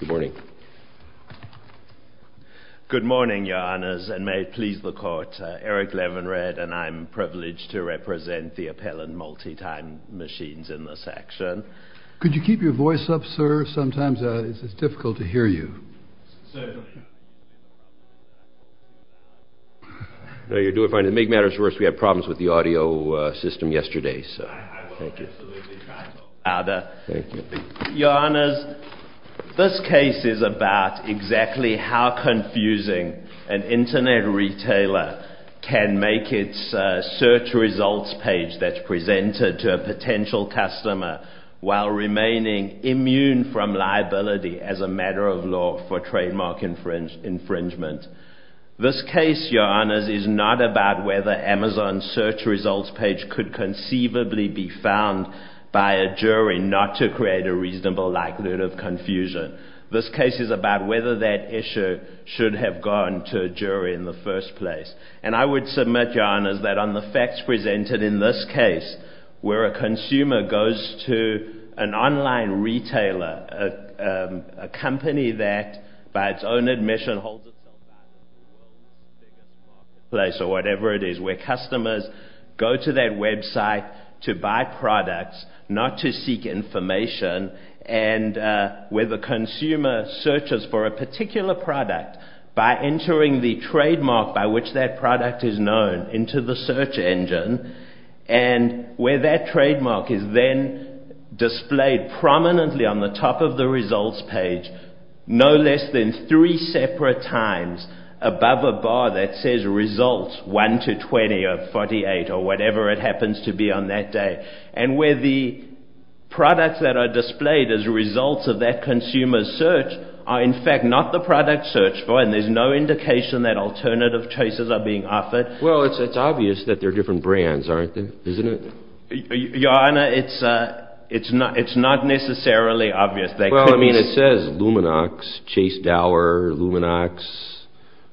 Good morning. Good morning, Your Honors, and may it please the Court, Eric Levinred, and I'm privileged to represent the Appellant Multi-Time Machines in this action. Could you keep your voice up, sir? Sometimes it's difficult to hear you. Sir. No, you're doing fine. To make matters worse, we had problems with the audio system yesterday, so. I will absolutely try to talk louder. Thank you. Your Honors, this case is about exactly how confusing an Internet retailer can make its search results page that's presented to a potential customer while remaining immune from liability as a matter of law for trademark infringement. This case, Your Honors, is not about whether Amazon's search results page could conceivably be found by a jury not to create a reasonable likelihood of confusion. This case is about whether that issue should have gone to a jury in the first place. And I would submit, Your Honors, that on the facts presented in this case, where a consumer goes to an online retailer, a company that, by its own admission, holds itself out of the world's biggest marketplace or whatever it is, where customers go to that website to buy products, not to seek information, and where the consumer searches for a particular product by entering the trademark by which that product is known into the search engine, and where that trademark is then displayed prominently on the top of the results page no less than three separate times above a bar that says, Results 1 to 20 or 48 or whatever it happens to be on that day. And where the products that are displayed as results of that consumer's search are, in fact, not the product searched for, and there's no indication that alternative choices are being offered. Well, it's obvious that they're different brands, aren't they? Isn't it? Your Honor, it's not necessarily obvious. Well, I mean, it says Luminox, Chase Dower, Luminox,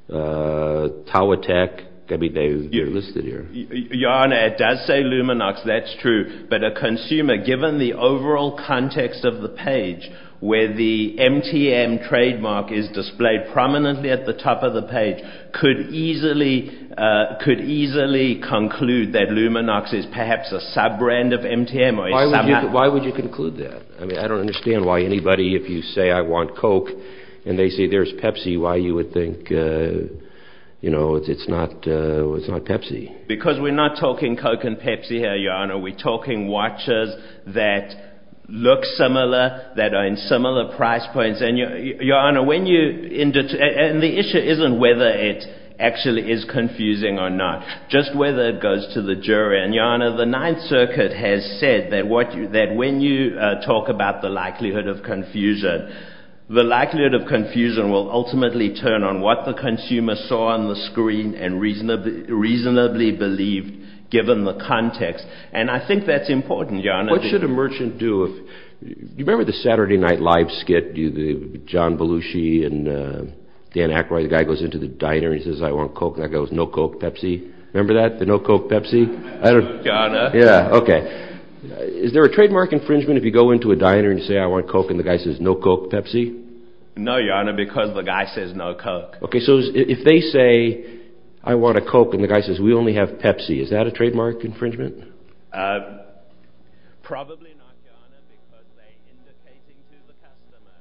Tawatek. I mean, they're listed here. Your Honor, it does say Luminox. That's true. But a consumer, given the overall context of the page where the MTM trademark is displayed prominently at the top of the page, could easily conclude that Luminox is perhaps a sub-brand of MTM. Why would you conclude that? I mean, I don't understand why anybody, if you say, I want Coke, and they say there's Pepsi, why you would think it's not Pepsi? Because we're not talking Coke and Pepsi here, Your Honor. We're talking watches that look similar, that are in similar price points. And, Your Honor, when you – and the issue isn't whether it actually is confusing or not, just whether it goes to the jury. And, Your Honor, the Ninth Circuit has said that when you talk about the likelihood of confusion, the likelihood of confusion will ultimately turn on what the consumer saw on the screen and reasonably believed, given the context. And I think that's important, Your Honor. What should a merchant do if – you remember the Saturday Night Live skit? John Belushi and Dan Aykroyd, the guy goes into the diner and he says, I want Coke. And the guy goes, no Coke, Pepsi. Remember that, the no Coke, Pepsi? Your Honor. Yeah, okay. Is there a trademark infringement if you go into a diner and you say, I want Coke, and the guy says, no Coke, Pepsi? No, Your Honor, because the guy says no Coke. Okay, so if they say, I want a Coke, and the guy says, we only have Pepsi, is that a trademark infringement? Probably not, Your Honor, because they're indicating to the customer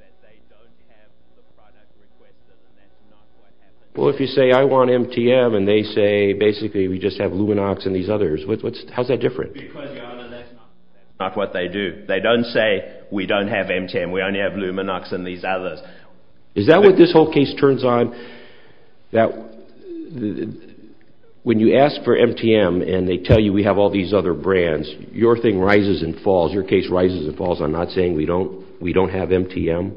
that they don't have the product requested, and that's not what happened. Well, if you say, I want MTM, and they say, basically, we just have Luminox and these others, how's that different? Because, Your Honor, that's not what they do. They don't say, we don't have MTM, we only have Luminox and these others. Is that what this whole case turns on, that when you ask for MTM and they tell you we have all these other brands, your thing rises and falls, your case rises and falls on not saying we don't have MTM?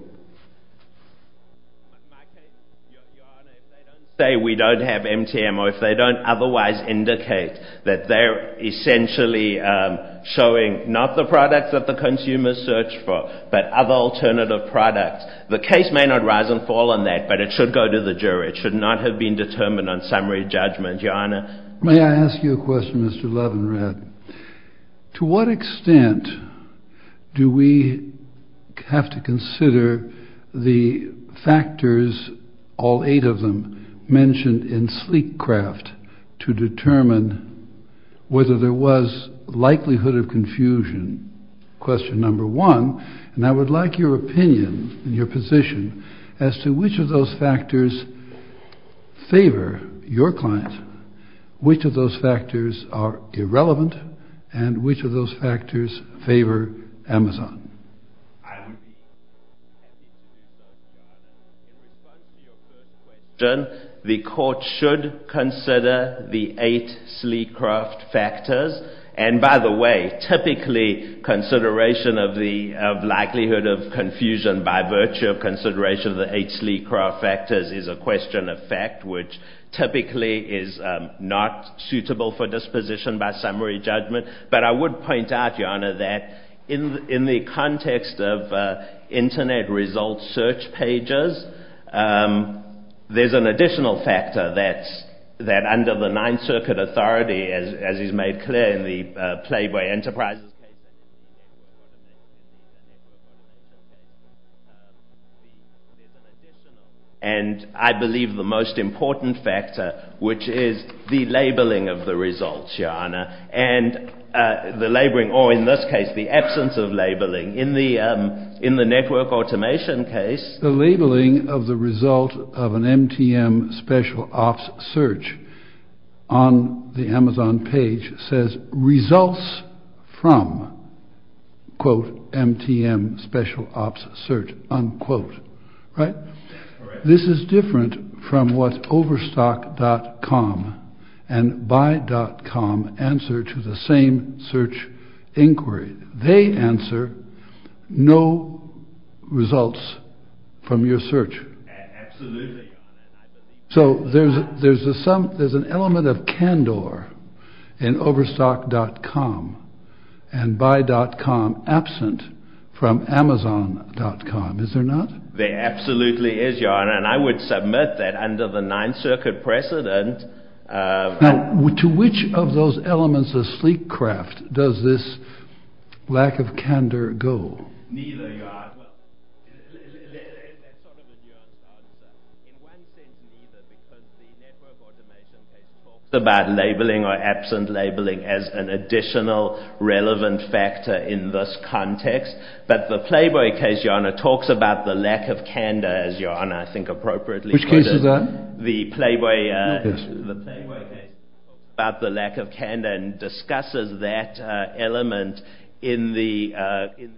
Your Honor, if they don't say we don't have MTM, or if they don't otherwise indicate that they're essentially showing, not the products that the consumer searched for, but other alternative products, the case may not rise and fall on that, but it should go to the jury. It should not have been determined on summary judgment, Your Honor. May I ask you a question, Mr. Levinrath? To what extent do we have to consider the factors, all eight of them, mentioned in Sleekcraft to determine whether there was likelihood of confusion? Question number one, and I would like your opinion, your position, as to which of those factors favor your client, which of those factors are irrelevant, and which of those factors favor Amazon? The court should consider the eight Sleekcraft factors, and by the way, typically consideration of likelihood of confusion by virtue of consideration of the eight Sleekcraft factors is a question of fact, which typically is not suitable for disposition by summary judgment, but I would point out, Your Honor, that in the context of Internet results search pages, there's an additional factor that under the Ninth Circuit authority, as is made clear in the Playboy Enterprises case, and I believe the most important factor, which is the labeling of the results, Your Honor, and the labeling, or in this case, the absence of labeling. In the network automation case— The labeling of the result of an MTM special ops search on the Amazon page says, Results from, quote, MTM special ops search, unquote, right? That's correct. This is different from what Overstock.com and Buy.com answer to the same search inquiry. They answer, No results from your search. Absolutely, Your Honor. So there's an element of candor in Overstock.com and Buy.com absent from Amazon.com, is there not? There absolutely is, Your Honor, and I would submit that under the Ninth Circuit precedent— Now, to which of those elements of sleek craft does this lack of candor go? Neither, Your Honor. Well, there is a sort of a nuance on that. In one sense, neither, because the network automation case talks about labeling or absent labeling as an additional relevant factor in this context, but the Playboy case, Your Honor, talks about the lack of candor, as Your Honor, I think, appropriately put it. Which case is that? The Playboy case. Yes. The Playboy case talks about the lack of candor and discusses that element in the—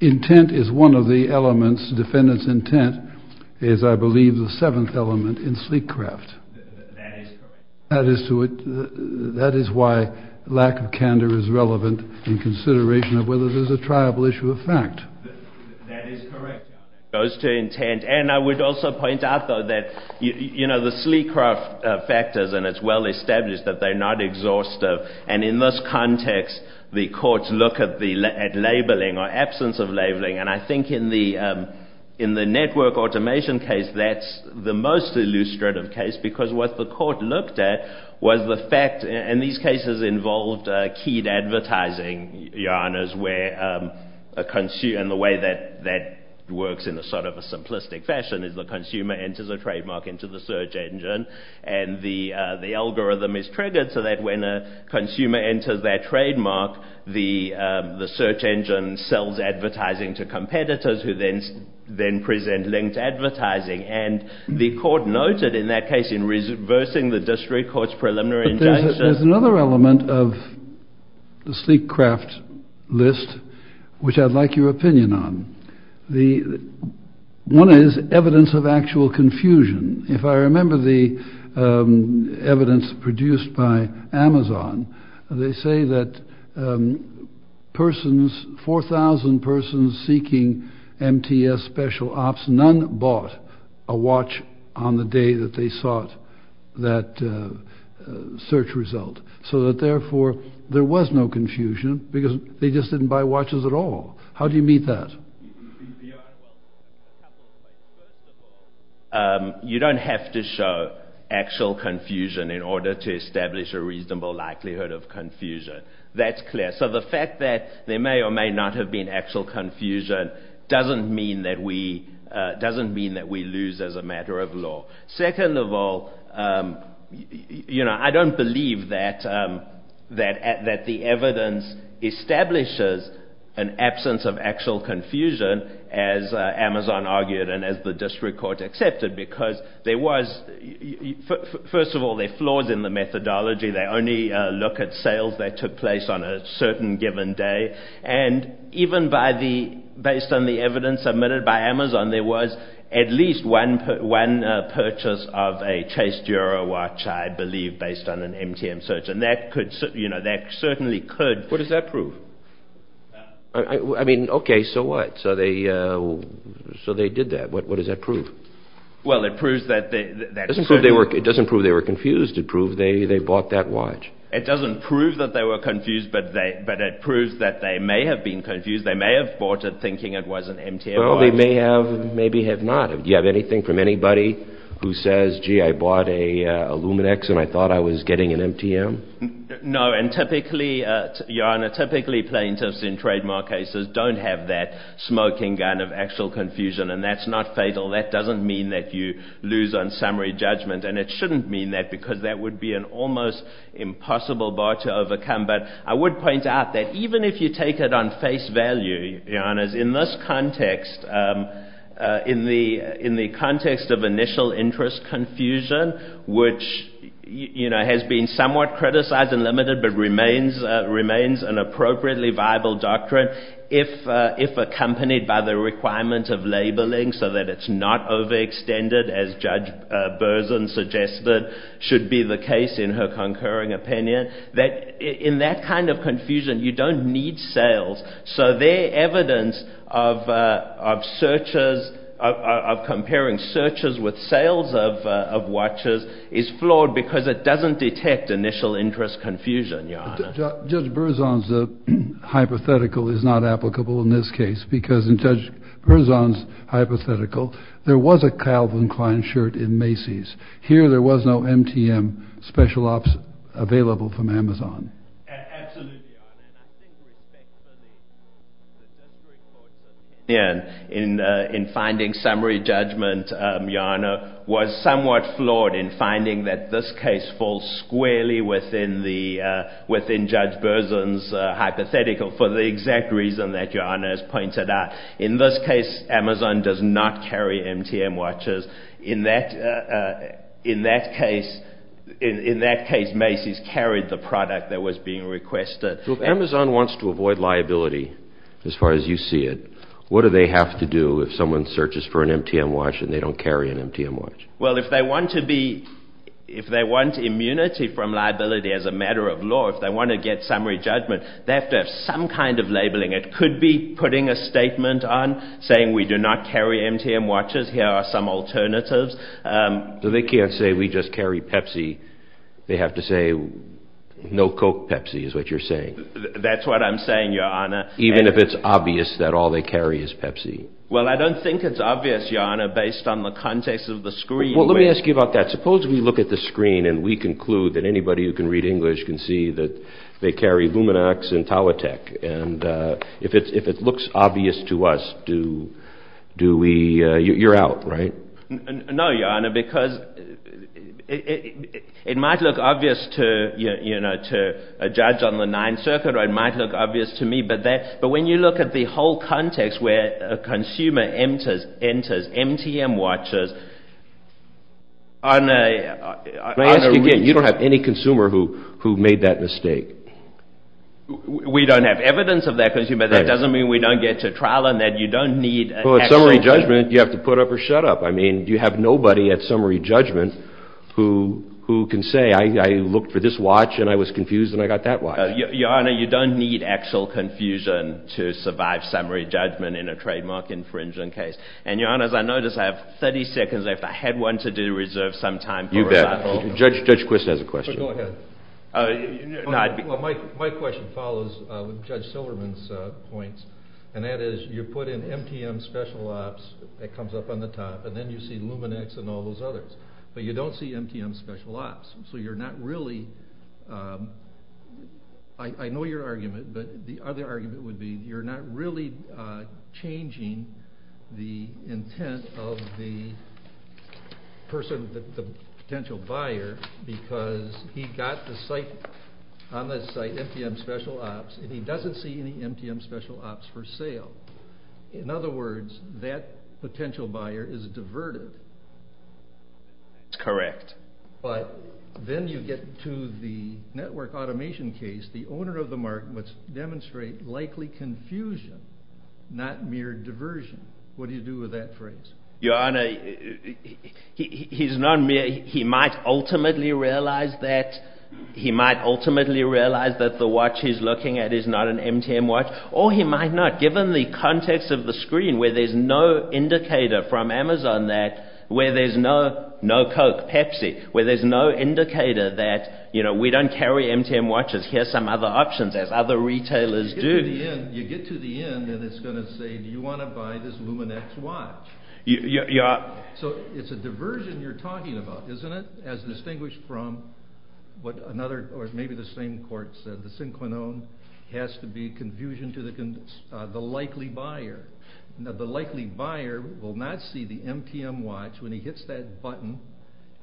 Intent is one of the elements. Defendant's intent is, I believe, the seventh element in sleek craft. That is correct. That is why lack of candor is relevant in consideration of whether there's a triable issue of fact. That is correct, Your Honor. It goes to intent. And I would also point out, though, that, you know, the sleek craft factors, and it's well established that they're not exhaustive, and in this context, the courts look at labeling or absence of labeling, and I think in the network automation case, that's the most illustrative case because what the court looked at was the fact—and these cases involved keyed advertising, Your Honors, where a consumer—and the way that works in sort of a simplistic fashion is the consumer enters a trademark into the search engine and the algorithm is triggered so that when a consumer enters that trademark, the search engine sells advertising to competitors who then present linked advertising. And the court noted in that case in reversing the district court's preliminary injunction— But there's another element of the sleek craft list which I'd like your opinion on. One is evidence of actual confusion. If I remember the evidence produced by Amazon, they say that persons—4,000 persons seeking MTS special ops, none bought a watch on the day that they sought that search result, so that therefore there was no confusion because they just didn't buy watches at all. How do you meet that? You don't have to show actual confusion in order to establish a reasonable likelihood of confusion. That's clear. So the fact that there may or may not have been actual confusion doesn't mean that we lose as a matter of law. Second of all, I don't believe that the evidence establishes an absence of actual confusion as Amazon argued and as the district court accepted because there was— First of all, there are flaws in the methodology. They only look at sales that took place on a certain given day. And even based on the evidence submitted by Amazon, there was at least one purchase of a Chase Dura watch, I believe, based on an MTM search, and that certainly could— What does that prove? I mean, okay, so what? So they did that. What does that prove? Well, it proves that— It doesn't prove they were confused. It proves they bought that watch. It doesn't prove that they were confused, but it proves that they may have been confused. They may have bought it thinking it was an MTM watch. Well, they may have, maybe have not. Do you have anything from anybody who says, gee, I bought a Luminex and I thought I was getting an MTM? No, and typically, Your Honor, typically plaintiffs in trademark cases don't have that smoking gun of actual confusion, and that's not fatal. That doesn't mean that you lose on summary judgment, and it shouldn't mean that because that would be an almost impossible bar to overcome. But I would point out that even if you take it on face value, Your Honors, in this context, in the context of initial interest confusion, which, you know, has been somewhat criticized and limited but remains an appropriately viable doctrine, if accompanied by the requirement of labeling so that it's not overextended, as Judge Berzon suggested should be the case in her concurring opinion, that in that kind of confusion, you don't need sales. So their evidence of searches, of comparing searches with sales of watches is flawed because it doesn't detect initial interest confusion, Your Honor. Judge Berzon's hypothetical is not applicable in this case because in Judge Berzon's hypothetical, there was a Calvin Klein shirt in Macy's. Here, there was no MTM special ops available from Amazon. Absolutely, Your Honor, and I think respect for the judgery court's opinion in finding summary judgment, Your Honor, was somewhat flawed in finding that this case falls squarely within Judge Berzon's hypothetical for the exact reason that Your Honor has pointed out. In this case, Amazon does not carry MTM watches. In that case, Macy's carried the product that was being requested. So if Amazon wants to avoid liability, as far as you see it, what do they have to do if someone searches for an MTM watch and they don't carry an MTM watch? Well, if they want immunity from liability as a matter of law, if they want to get summary judgment, they have to have some kind of labeling. It could be putting a statement on saying we do not carry MTM watches. Here are some alternatives. So they can't say we just carry Pepsi. They have to say no Coke Pepsi is what you're saying. That's what I'm saying, Your Honor. Even if it's obvious that all they carry is Pepsi. Well, I don't think it's obvious, Your Honor, based on the context of the screen. Well, let me ask you about that. Suppose we look at the screen and we conclude that anybody who can read English can see that they carry Luminox and Talatec. And if it looks obvious to us, do we – you're out, right? No, Your Honor, because it might look obvious to a judge on the Ninth Circuit or it might look obvious to me. But when you look at the whole context where a consumer enters MTM watches on a – Let me ask you again. You don't have any consumer who made that mistake? We don't have evidence of that consumer. That doesn't mean we don't get to trial on that. You don't need – Well, at summary judgment, you have to put up or shut up. I mean, you have nobody at summary judgment who can say I looked for this watch and I was confused and I got that watch. Your Honor, you don't need actual confusion to survive summary judgment in a trademark infringement case. And, Your Honor, as I notice, I have 30 seconds left. I had wanted to reserve some time. You bet. Judge Quist has a question. Go ahead. My question follows Judge Silverman's points, and that is you put in MTM Special Ops, that comes up on the top, and then you see Luminox and all those others. But you don't see MTM Special Ops, so you're not really – I know your argument, but the other argument would be you're not really changing the intent of the person, the potential buyer, because he got on the site MTM Special Ops and he doesn't see any MTM Special Ops for sale. In other words, that potential buyer is diverted. That's correct. But then you get to the network automation case. The owner of the market must demonstrate likely confusion, not mere diversion. What do you do with that phrase? Your Honor, he's not mere. He might ultimately realize that the watch he's looking at is not an MTM watch, or he might not, given the context of the screen where there's no indicator from Amazon that – where there's no Coke, Pepsi, where there's no indicator that we don't carry MTM watches. Here's some other options, as other retailers do. You get to the end, and it's going to say, do you want to buy this Luminox watch? So it's a diversion you're talking about, isn't it, as distinguished from what another or maybe the same court said, the synchronome has to be confusion to the likely buyer. The likely buyer will not see the MTM watch when he hits that button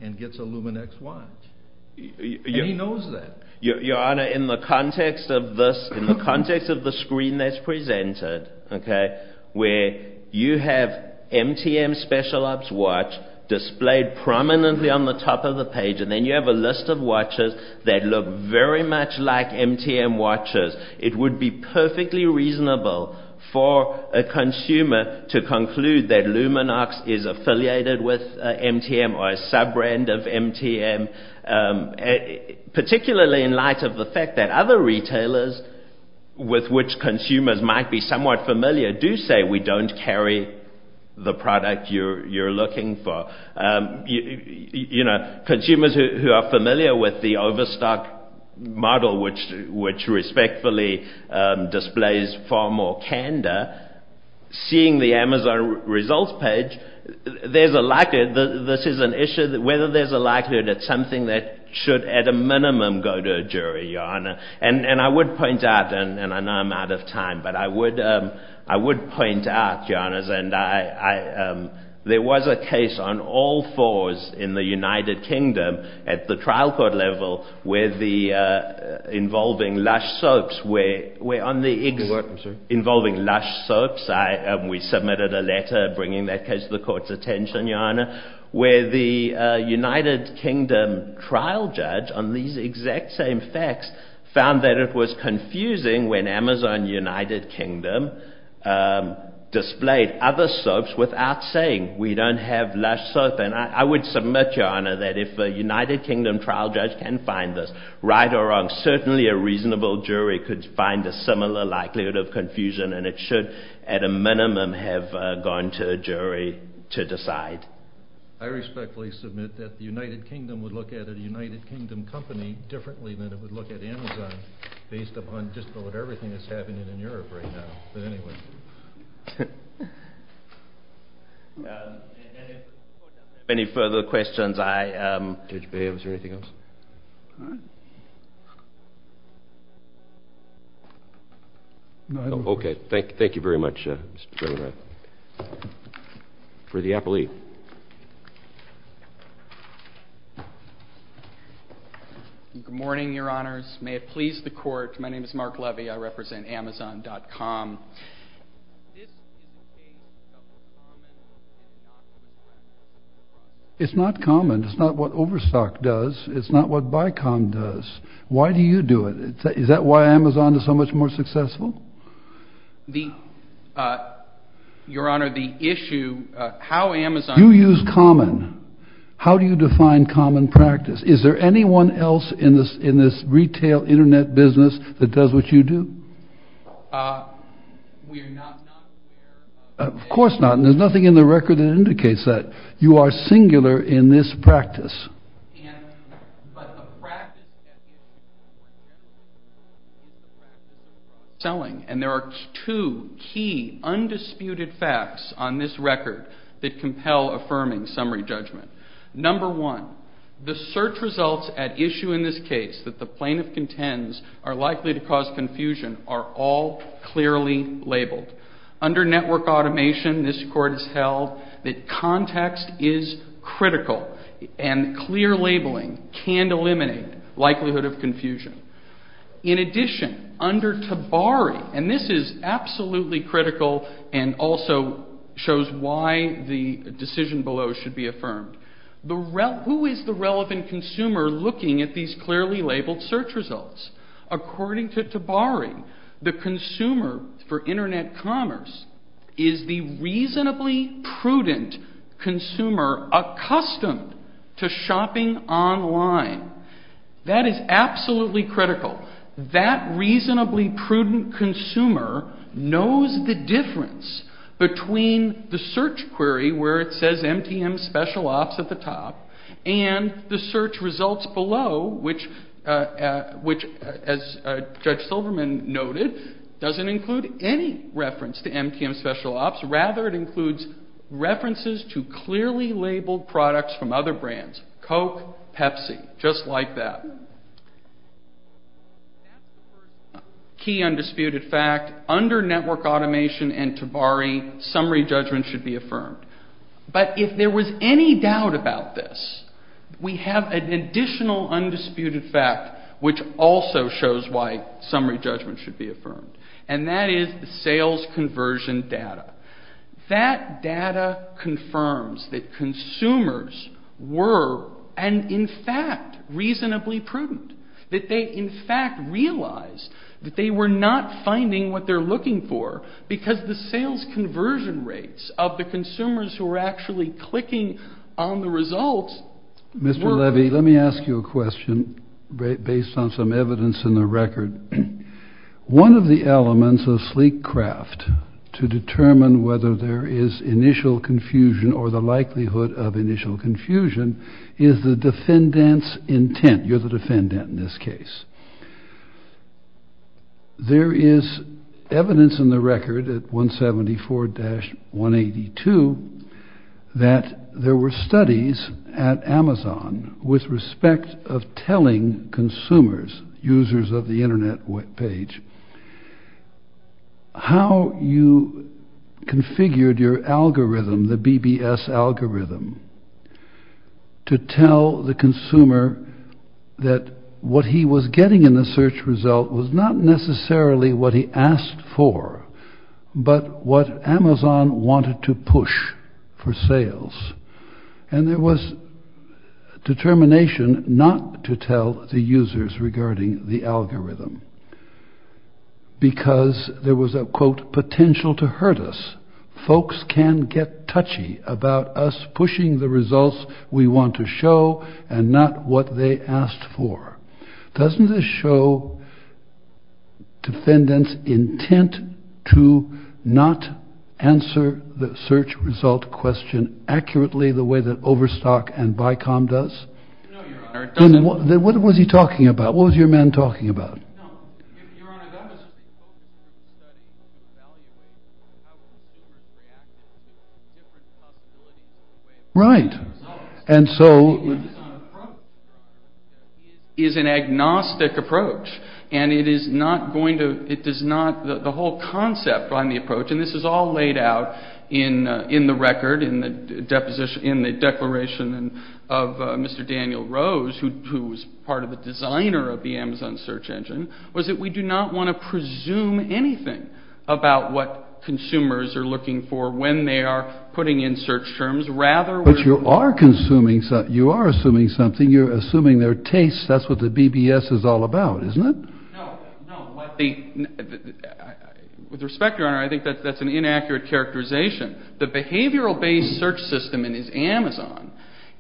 and gets a Luminox watch, and he knows that. Your Honor, in the context of this, in the context of the screen that's presented, where you have MTM Special Ops watch displayed prominently on the top of the page, and then you have a list of watches that look very much like MTM watches, it would be perfectly reasonable for a consumer to conclude that Luminox is affiliated with MTM or a sub-brand of MTM, particularly in light of the fact that other retailers with which consumers might be somewhat familiar do say, we don't carry the product you're looking for. Consumers who are familiar with the Overstock model, which respectfully displays far more candor, seeing the Amazon results page, there's a likelihood, this is an issue, whether there's a likelihood that something that should at a minimum go to a jury, Your Honor. And I would point out, and I know I'm out of time, but I would point out, Your Honors, there was a case on all fours in the United Kingdom at the trial court level involving Lush Soaps. You're welcome, sir. Involving Lush Soaps, we submitted a letter bringing that case to the court's attention, Your Honor, where the United Kingdom trial judge on these exact same facts found that it was confusing when Amazon United Kingdom displayed other soaps without saying, we don't have Lush Soap. And I would submit, Your Honor, that if a United Kingdom trial judge can find this right or wrong, certainly a reasonable jury could find a similar likelihood of confusion and it should, at a minimum, have gone to a jury to decide. I respectfully submit that the United Kingdom would look at a United Kingdom company differently than it would look at Amazon, based upon just about everything that's happening in Europe right now. But anyway. Any further questions? Judge Baird, was there anything else? No, I don't think so. Okay. Thank you very much, Mr. Baird. For the appellee. Good morning, Your Honors. May it please the Court. My name is Mark Levy. I represent Amazon.com. It's not common. It's not what Overstock does. It's not what Bicom does. Why do you do it? Is that why Amazon is so much more successful? Your Honor, the issue, how Amazon You use common. How do you define common practice? Is there anyone else in this retail internet business that does what you do? Of course not. And there's nothing in the record that indicates that. You are singular in this practice. And there are two key, undisputed facts on this record that compel affirming summary judgment. Number one, the search results at issue in this case that the plaintiff contends are likely to cause confusion are all clearly labeled. Under network automation, this Court has held that context is critical and clear labeling can eliminate likelihood of confusion. In addition, under Tabari, and this is absolutely critical and also shows why the decision below should be affirmed, who is the relevant consumer looking at these clearly labeled search results? According to Tabari, the consumer for internet commerce is the reasonably prudent consumer accustomed to shopping online. That is absolutely critical. That reasonably prudent consumer knows the difference between the search query where it says MTM Special Ops at the top and the search results below, which as Judge Silverman noted doesn't include any reference to MTM Special Ops. Rather, it includes references to clearly labeled products from other brands. Coke, Pepsi, just like that. Key undisputed fact, under network automation and Tabari, summary judgment should be affirmed. But if there was any doubt about this, we have an additional undisputed fact which also shows why summary judgment should be affirmed. And that is the sales conversion data. That data confirms that consumers were, and in fact, reasonably prudent. That they, in fact, realized that they were not finding what they're looking for because the sales conversion rates of the consumers who were actually clicking on the results were... Mr. Levy, let me ask you a question based on some evidence in the record. One of the elements of sleek craft to determine whether there is initial confusion or the likelihood of initial confusion is the defendant's intent. You're the defendant in this case. There is evidence in the record at 174-182 that there were studies at Amazon with respect of telling consumers, users of the internet webpage, how you configured your algorithm, the BBS algorithm, to tell the consumer that what he was getting in the search result was not necessarily what he asked for, but what Amazon wanted to push for sales. And there was determination not to tell the users regarding the algorithm because there was a, quote, potential to hurt us. Folks can get touchy about us pushing the results we want to show and not what they asked for. Doesn't this show defendant's intent to not answer the search result question accurately the way that Overstock and Bicom does? What was he talking about? What was your man talking about? Right. And so... is an agnostic approach. And it is not going to, it does not, the whole concept on the approach, and this is all laid out in the record, in the declaration of Mr. Daniel Rose, who was part of the designer of the Amazon search engine, was that we do not want to presume anything about what consumers are looking for when they are putting in search terms. But you are assuming something. You're assuming their tastes. That's what the BBS is all about, isn't it? No. With respect, Your Honor, I think that's an inaccurate characterization. The behavioral-based search system in Amazon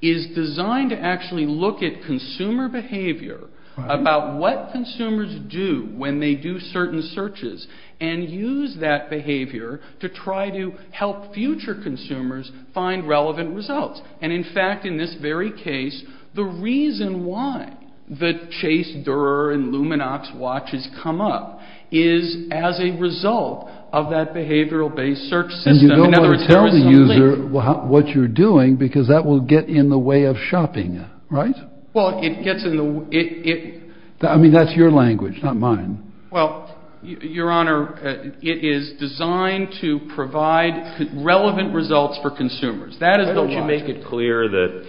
is designed to actually look at consumer behavior about what consumers do when they do certain searches and use that behavior to try to help future consumers find relevant results. And in fact, in this very case, the reason why the Chase, Durer, and Luminox watches come up is as a result of that behavioral-based search system. And you don't want to tell the user what you're doing because that will get in the way of shopping, right? Well, it gets in the way... I mean, that's your language, not mine. Well, Your Honor, it is designed to provide relevant results for consumers. That is the logic. Why don't you make it clear that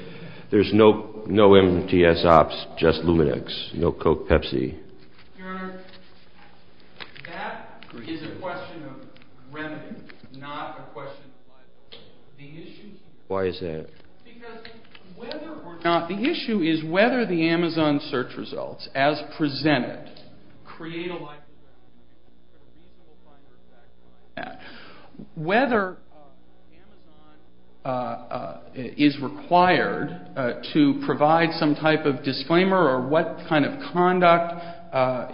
there's no MTS Ops, just Luminox, no Coke, Pepsi? Your Honor, that is a question of remedy, not a question of life. The issue... Why is that? Because whether or not... The issue is whether the Amazon search results, as presented, create a life... Whether Amazon is required to provide some type of disclaimer or what kind of conduct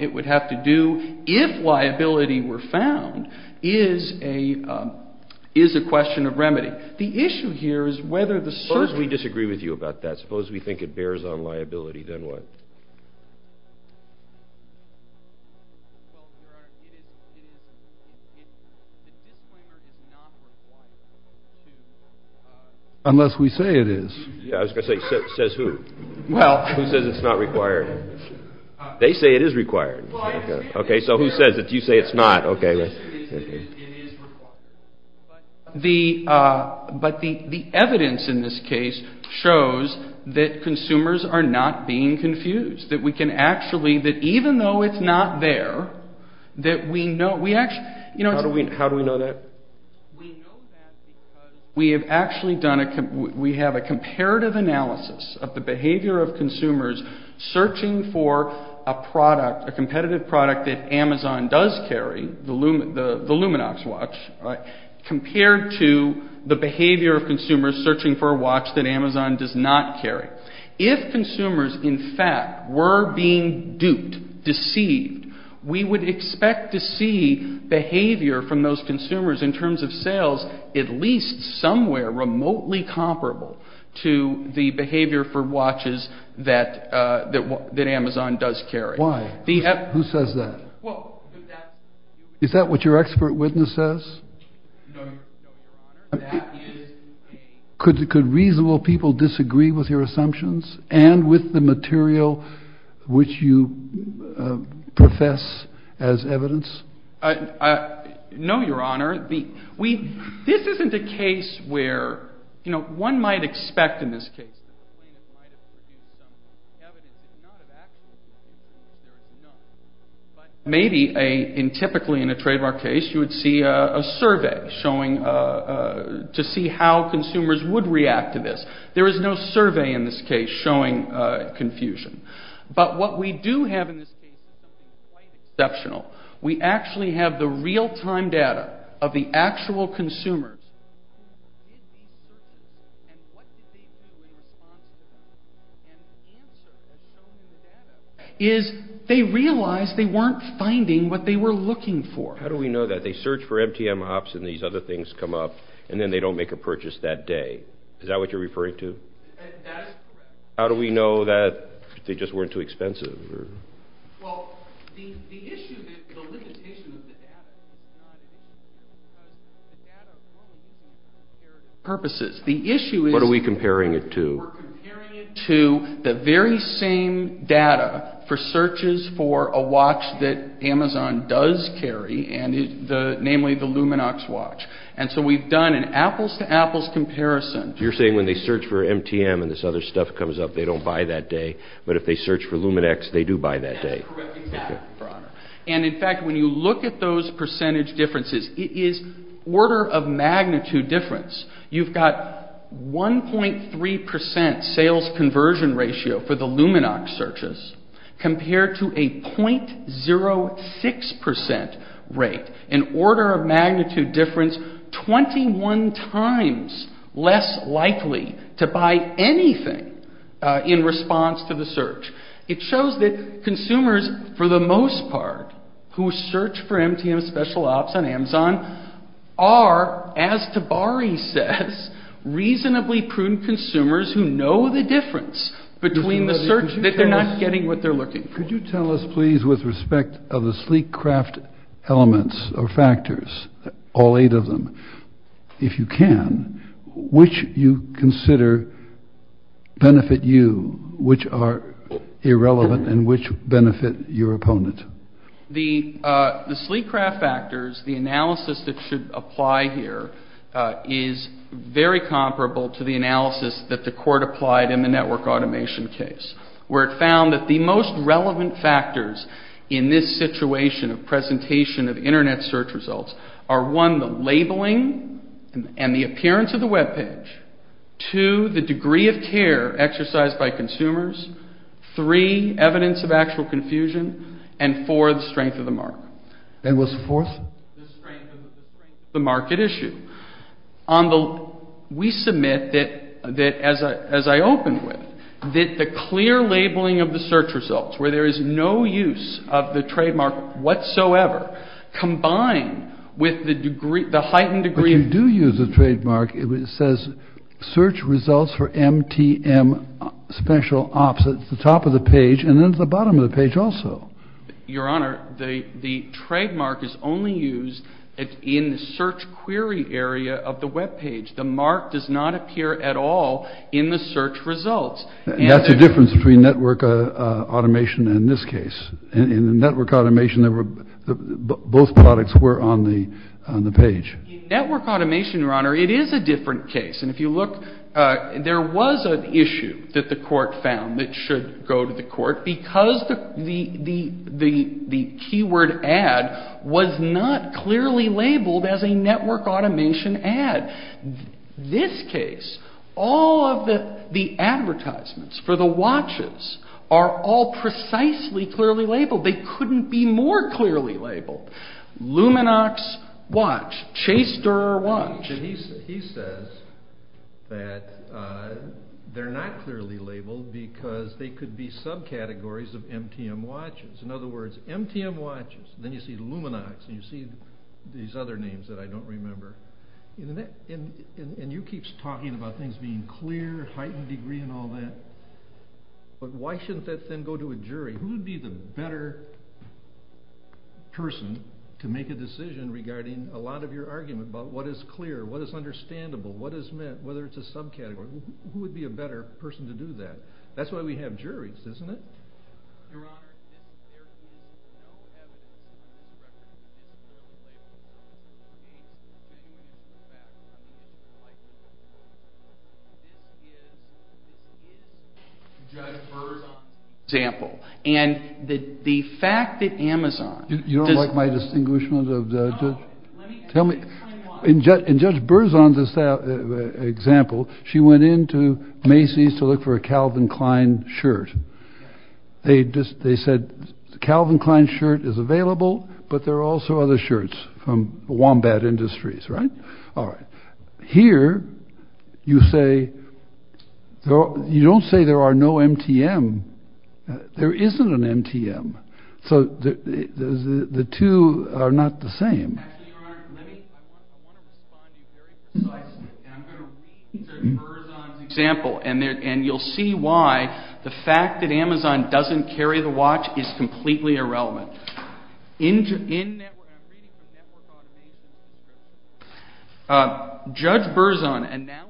it would have to do if liability were found is a question of remedy. The issue here is whether the search... Suppose we disagree with you about that. Suppose we think it bears on liability, then what? Well, Your Honor, it is... The disclaimer is not required to... Unless we say it is. Yeah, I was going to say, says who? Well... Who says it's not required? They say it is required. Okay, so who says it? You say it's not. Okay. It is required. But the evidence in this case shows that consumers are not being confused. That we can actually... That even though it's not there, that we know... We actually... How do we know that? We know that because we have actually done... We have a comparative analysis of the behavior of consumers searching for a product, a competitive product that Amazon does carry, the Luminox watch, compared to the behavior of consumers searching for a watch that Amazon does not carry. If consumers, in fact, were being duped, deceived, we would expect to see behavior from those consumers in terms of sales at least somewhere remotely comparable to the behavior for watches that Amazon does carry. Why? Who says that? Well... Is that what your expert witness says? No, Your Honor. Could reasonable people disagree with your assumptions and with the material which you profess as evidence? No, Your Honor. This isn't a case where... You know, one might expect in this case... Maybe, typically in a trademark case, you would see a survey to see how consumers would react to this. There is no survey in this case showing confusion. But what we do have in this case is something quite exceptional. We actually have the real-time data of the actual consumers. They realized they weren't finding what they were looking for. How do we know that? They search for MTM hops and these other things come up and then they don't make a purchase that day. Is that what you're referring to? That is correct. How do we know that they just weren't too expensive? Well, the issue, the limitation of the data... ...purposes. What are we comparing it to? We're comparing it to the very same data for searches for a watch that Amazon does carry and namely the Luminox watch. And so we've done an apples-to-apples comparison. You're saying when they search for MTM and this other stuff comes up, they don't buy that day. But if they search for Luminex, they do buy that day. That's correct. Exactly, Your Honor. And in fact, when you look at those percentage differences, it is order-of-magnitude difference. You've got 1.3% sales conversion ratio for the Luminox searches compared to a 0.06% rate, an order-of-magnitude difference 21 times less likely to buy anything in response to the search. It shows that consumers, for the most part, who search for MTM Special Ops on Amazon are, as Tabari says, reasonably prudent consumers who know the difference between the search that they're not getting what they're looking for. Could you tell us, please, with respect of the sleek craft elements or factors, all eight of them, if you can, which you consider benefit you, which are irrelevant, and which benefit your opponent? the analysis that should apply here is very comparable to the analysis that the Court applied in the network automation case, where it found that the most relevant factors in this situation of presentation of Internet search results are, one, the labeling and the appearance of the webpage, two, the degree of care exercised by consumers, three, evidence of actual confusion, and, four, the strength of the market. And what's the fourth? The strength of the market issue. We submit that, as I opened with, that the clear labeling of the search results, where there is no use of the trademark whatsoever, combined with the heightened degree of... But you do use the trademark. It says, Search results for MTM Special Ops. It's the top of the page, and then it's the bottom of the page also. Your Honor, the trademark is only used in the search query area of the webpage. The mark does not appear at all in the search results. That's the difference between network automation and this case. In the network automation, both products were on the page. In network automation, Your Honor, it is a different case. And if you look, there was an issue that the Court found that should go to the Court, because the keyword ad was not clearly labeled as a network automation ad. This case, all of the advertisements for the watches are all precisely clearly labeled. They couldn't be more clearly labeled. Luminox watch. Chase-Durrer watch. He says that they're not clearly labeled because they could be subcategories of MTM watches. In other words, MTM watches. Then you see Luminox, and you see these other names that I don't remember. And you keep talking about things being clear, heightened degree, and all that. But why shouldn't that then go to a jury? Who would be the better person to make a decision regarding a lot of your argument about what is clear, what is understandable, what is meant, whether it's a subcategory? Who would be a better person to do that? That's why we have juries, isn't it? Your Honor, if there is no evidence that you can represent the jurors, I think we need to do that. I think it would be a good idea to use Judge Berzon's example. And the fact that Amazon does... You don't like my distinguishment of the judge? No, let me explain why. In Judge Berzon's example, she went into Macy's to look for a Calvin Klein shirt. They said, Calvin Klein shirt is available, but there are also other shirts from Wombat Industries, right? All right. Here, you say... You don't say there are no MTM. There isn't an MTM. So the two are not the same. Actually, Your Honor, let me... I want to respond to you very precisely. And I'm going to read Judge Berzon's example. And you'll see why the fact that Amazon doesn't carry the watch is completely irrelevant. In... Judge Berzon... ...and never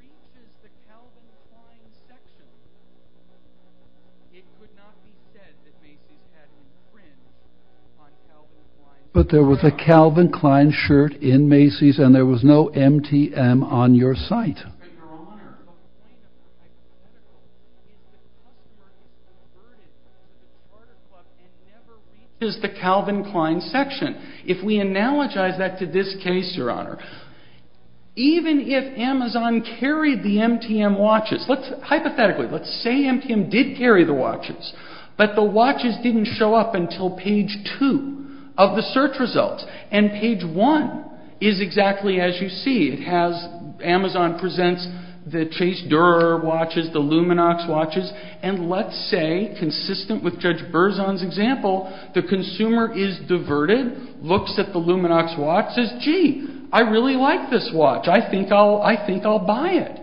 reaches the Calvin Klein section. It could not be said that Macy's had any print on Calvin Klein... But there was a Calvin Klein shirt in Macy's and there was no MTM on your site. But, Your Honor... ...is the Calvin Klein section. If we analogize that to this case, Your Honor, even if Amazon carried the MTM watches... Hypothetically, let's say MTM did carry the watches, but the watches didn't show up until page 2 of the search results. And page 1 is exactly as you see. It has... Amazon presents the Chase Durer watches, the Luminox watches. And let's say, consistent with Judge Berzon's example, the consumer is diverted, looks at the Luminox watch, and says, gee, I really like this watch. I think I'll buy it.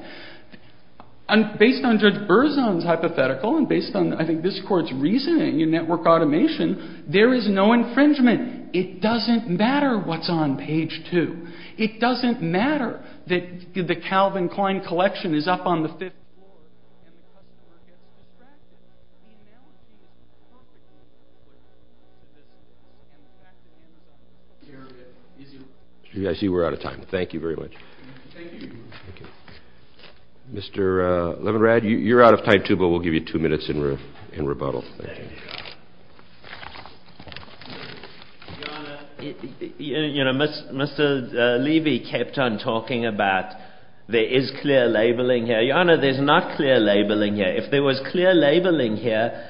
Based on Judge Berzon's hypothetical and based on, I think, this court's reasoning in network automation, there is no infringement. It doesn't matter what's on page 2. It doesn't matter that the Calvin Klein collection is up on the fifth floor... I see we're out of time. Thank you very much. Thank you. Thank you. Mr. Levinrad, you're out of time too, but we'll give you two minutes in rebuttal. Thank you. Thank you, Your Honor. Your Honor, you know, Mr. Levy kept on talking about there is clear labeling here. Your Honor, there's not clear labeling here. If there was clear labeling here,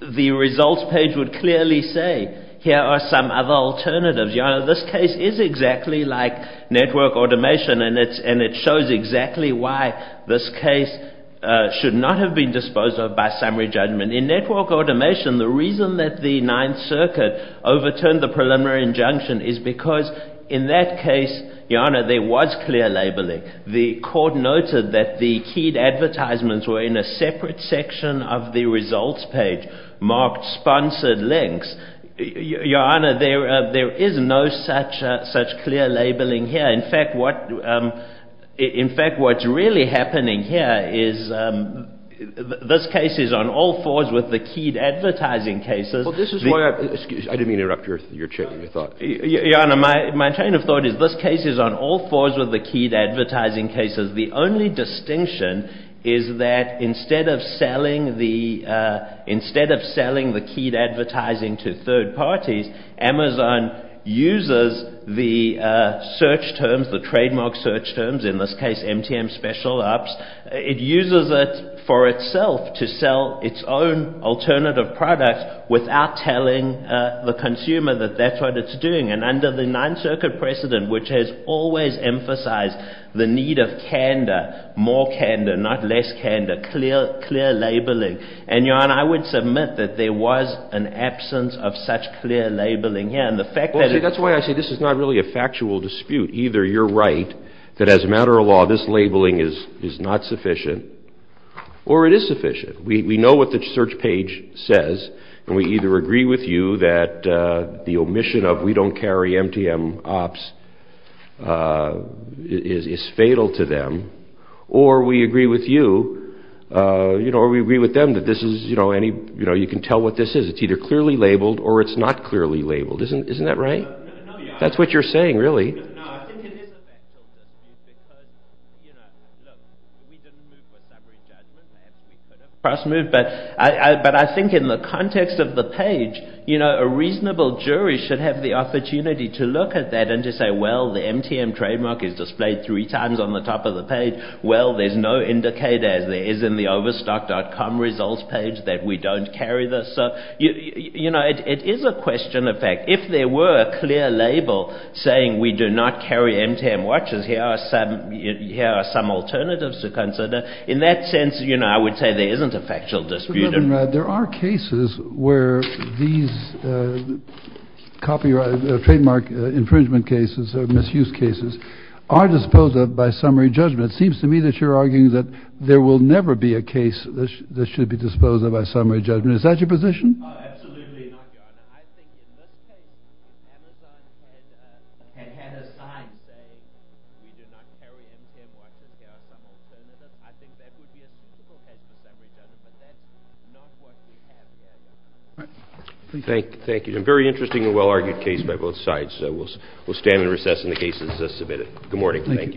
the results page would clearly say, here are some other alternatives. Your Honor, this case is exactly like network automation and it shows exactly why this case should not have been disposed of by summary judgment. In network automation, the reason that the Ninth Circuit overturned the preliminary injunction is because in that case, Your Honor, there was clear labeling. The court noted that the keyed advertisements were in a separate section of the results page marked sponsored links. Your Honor, there is no such clear labeling here. In fact, what's really happening here is this case is on all fours with the keyed advertising cases. I didn't mean to interrupt your chain of thought. Your Honor, my chain of thought is this case is on all fours with the keyed advertising cases. The only distinction is that instead of selling the keyed advertising to third parties, Amazon uses the search terms, the trademark search terms, in this case MTM Special Ops, it uses it for itself to sell its own alternative products without telling the consumer that that's what it's doing. Under the Ninth Circuit precedent, which has always emphasized the need of candor, more candor, not less candor, clear labeling. Your Honor, I would submit that there was an absence of such clear labeling here. That's why I say this is not really a factual dispute. Either you're right that as a matter of law this labeling is not sufficient or it is sufficient. We know what the search page says and we either agree with you that the omission of we don't carry MTM Ops is fatal to them or we agree with you or we agree with them that you can tell what this is. It's either clearly labeled or it's not clearly labeled. Isn't that right? That's what you're saying, really. No, I think it is a factual dispute because, you know, look, we didn't move for summary judgment. Perhaps we could have cross-moved, but I think in the context of the page, you know, a reasonable jury should have the opportunity to look at that and to say, well, the MTM trademark is displayed three times on the top of the page. Well, there's no indicator as there is in the overstock.com results page that we don't carry this. So, you know, it is a question of fact. If there were a clear label saying we do not carry MTM watches, here are some alternatives to consider. In that sense, you know, I would say there isn't a factual dispute. There are cases where these trademark infringement cases or misuse cases are disposed of by summary judgment. It seems to me that you're arguing that there will never be a case that should be disposed of by summary judgment. Is that your position? Absolutely not, Your Honor. Thank you. A very interesting and well-argued case by both sides. We'll stand and recess in the cases submitted. Good morning.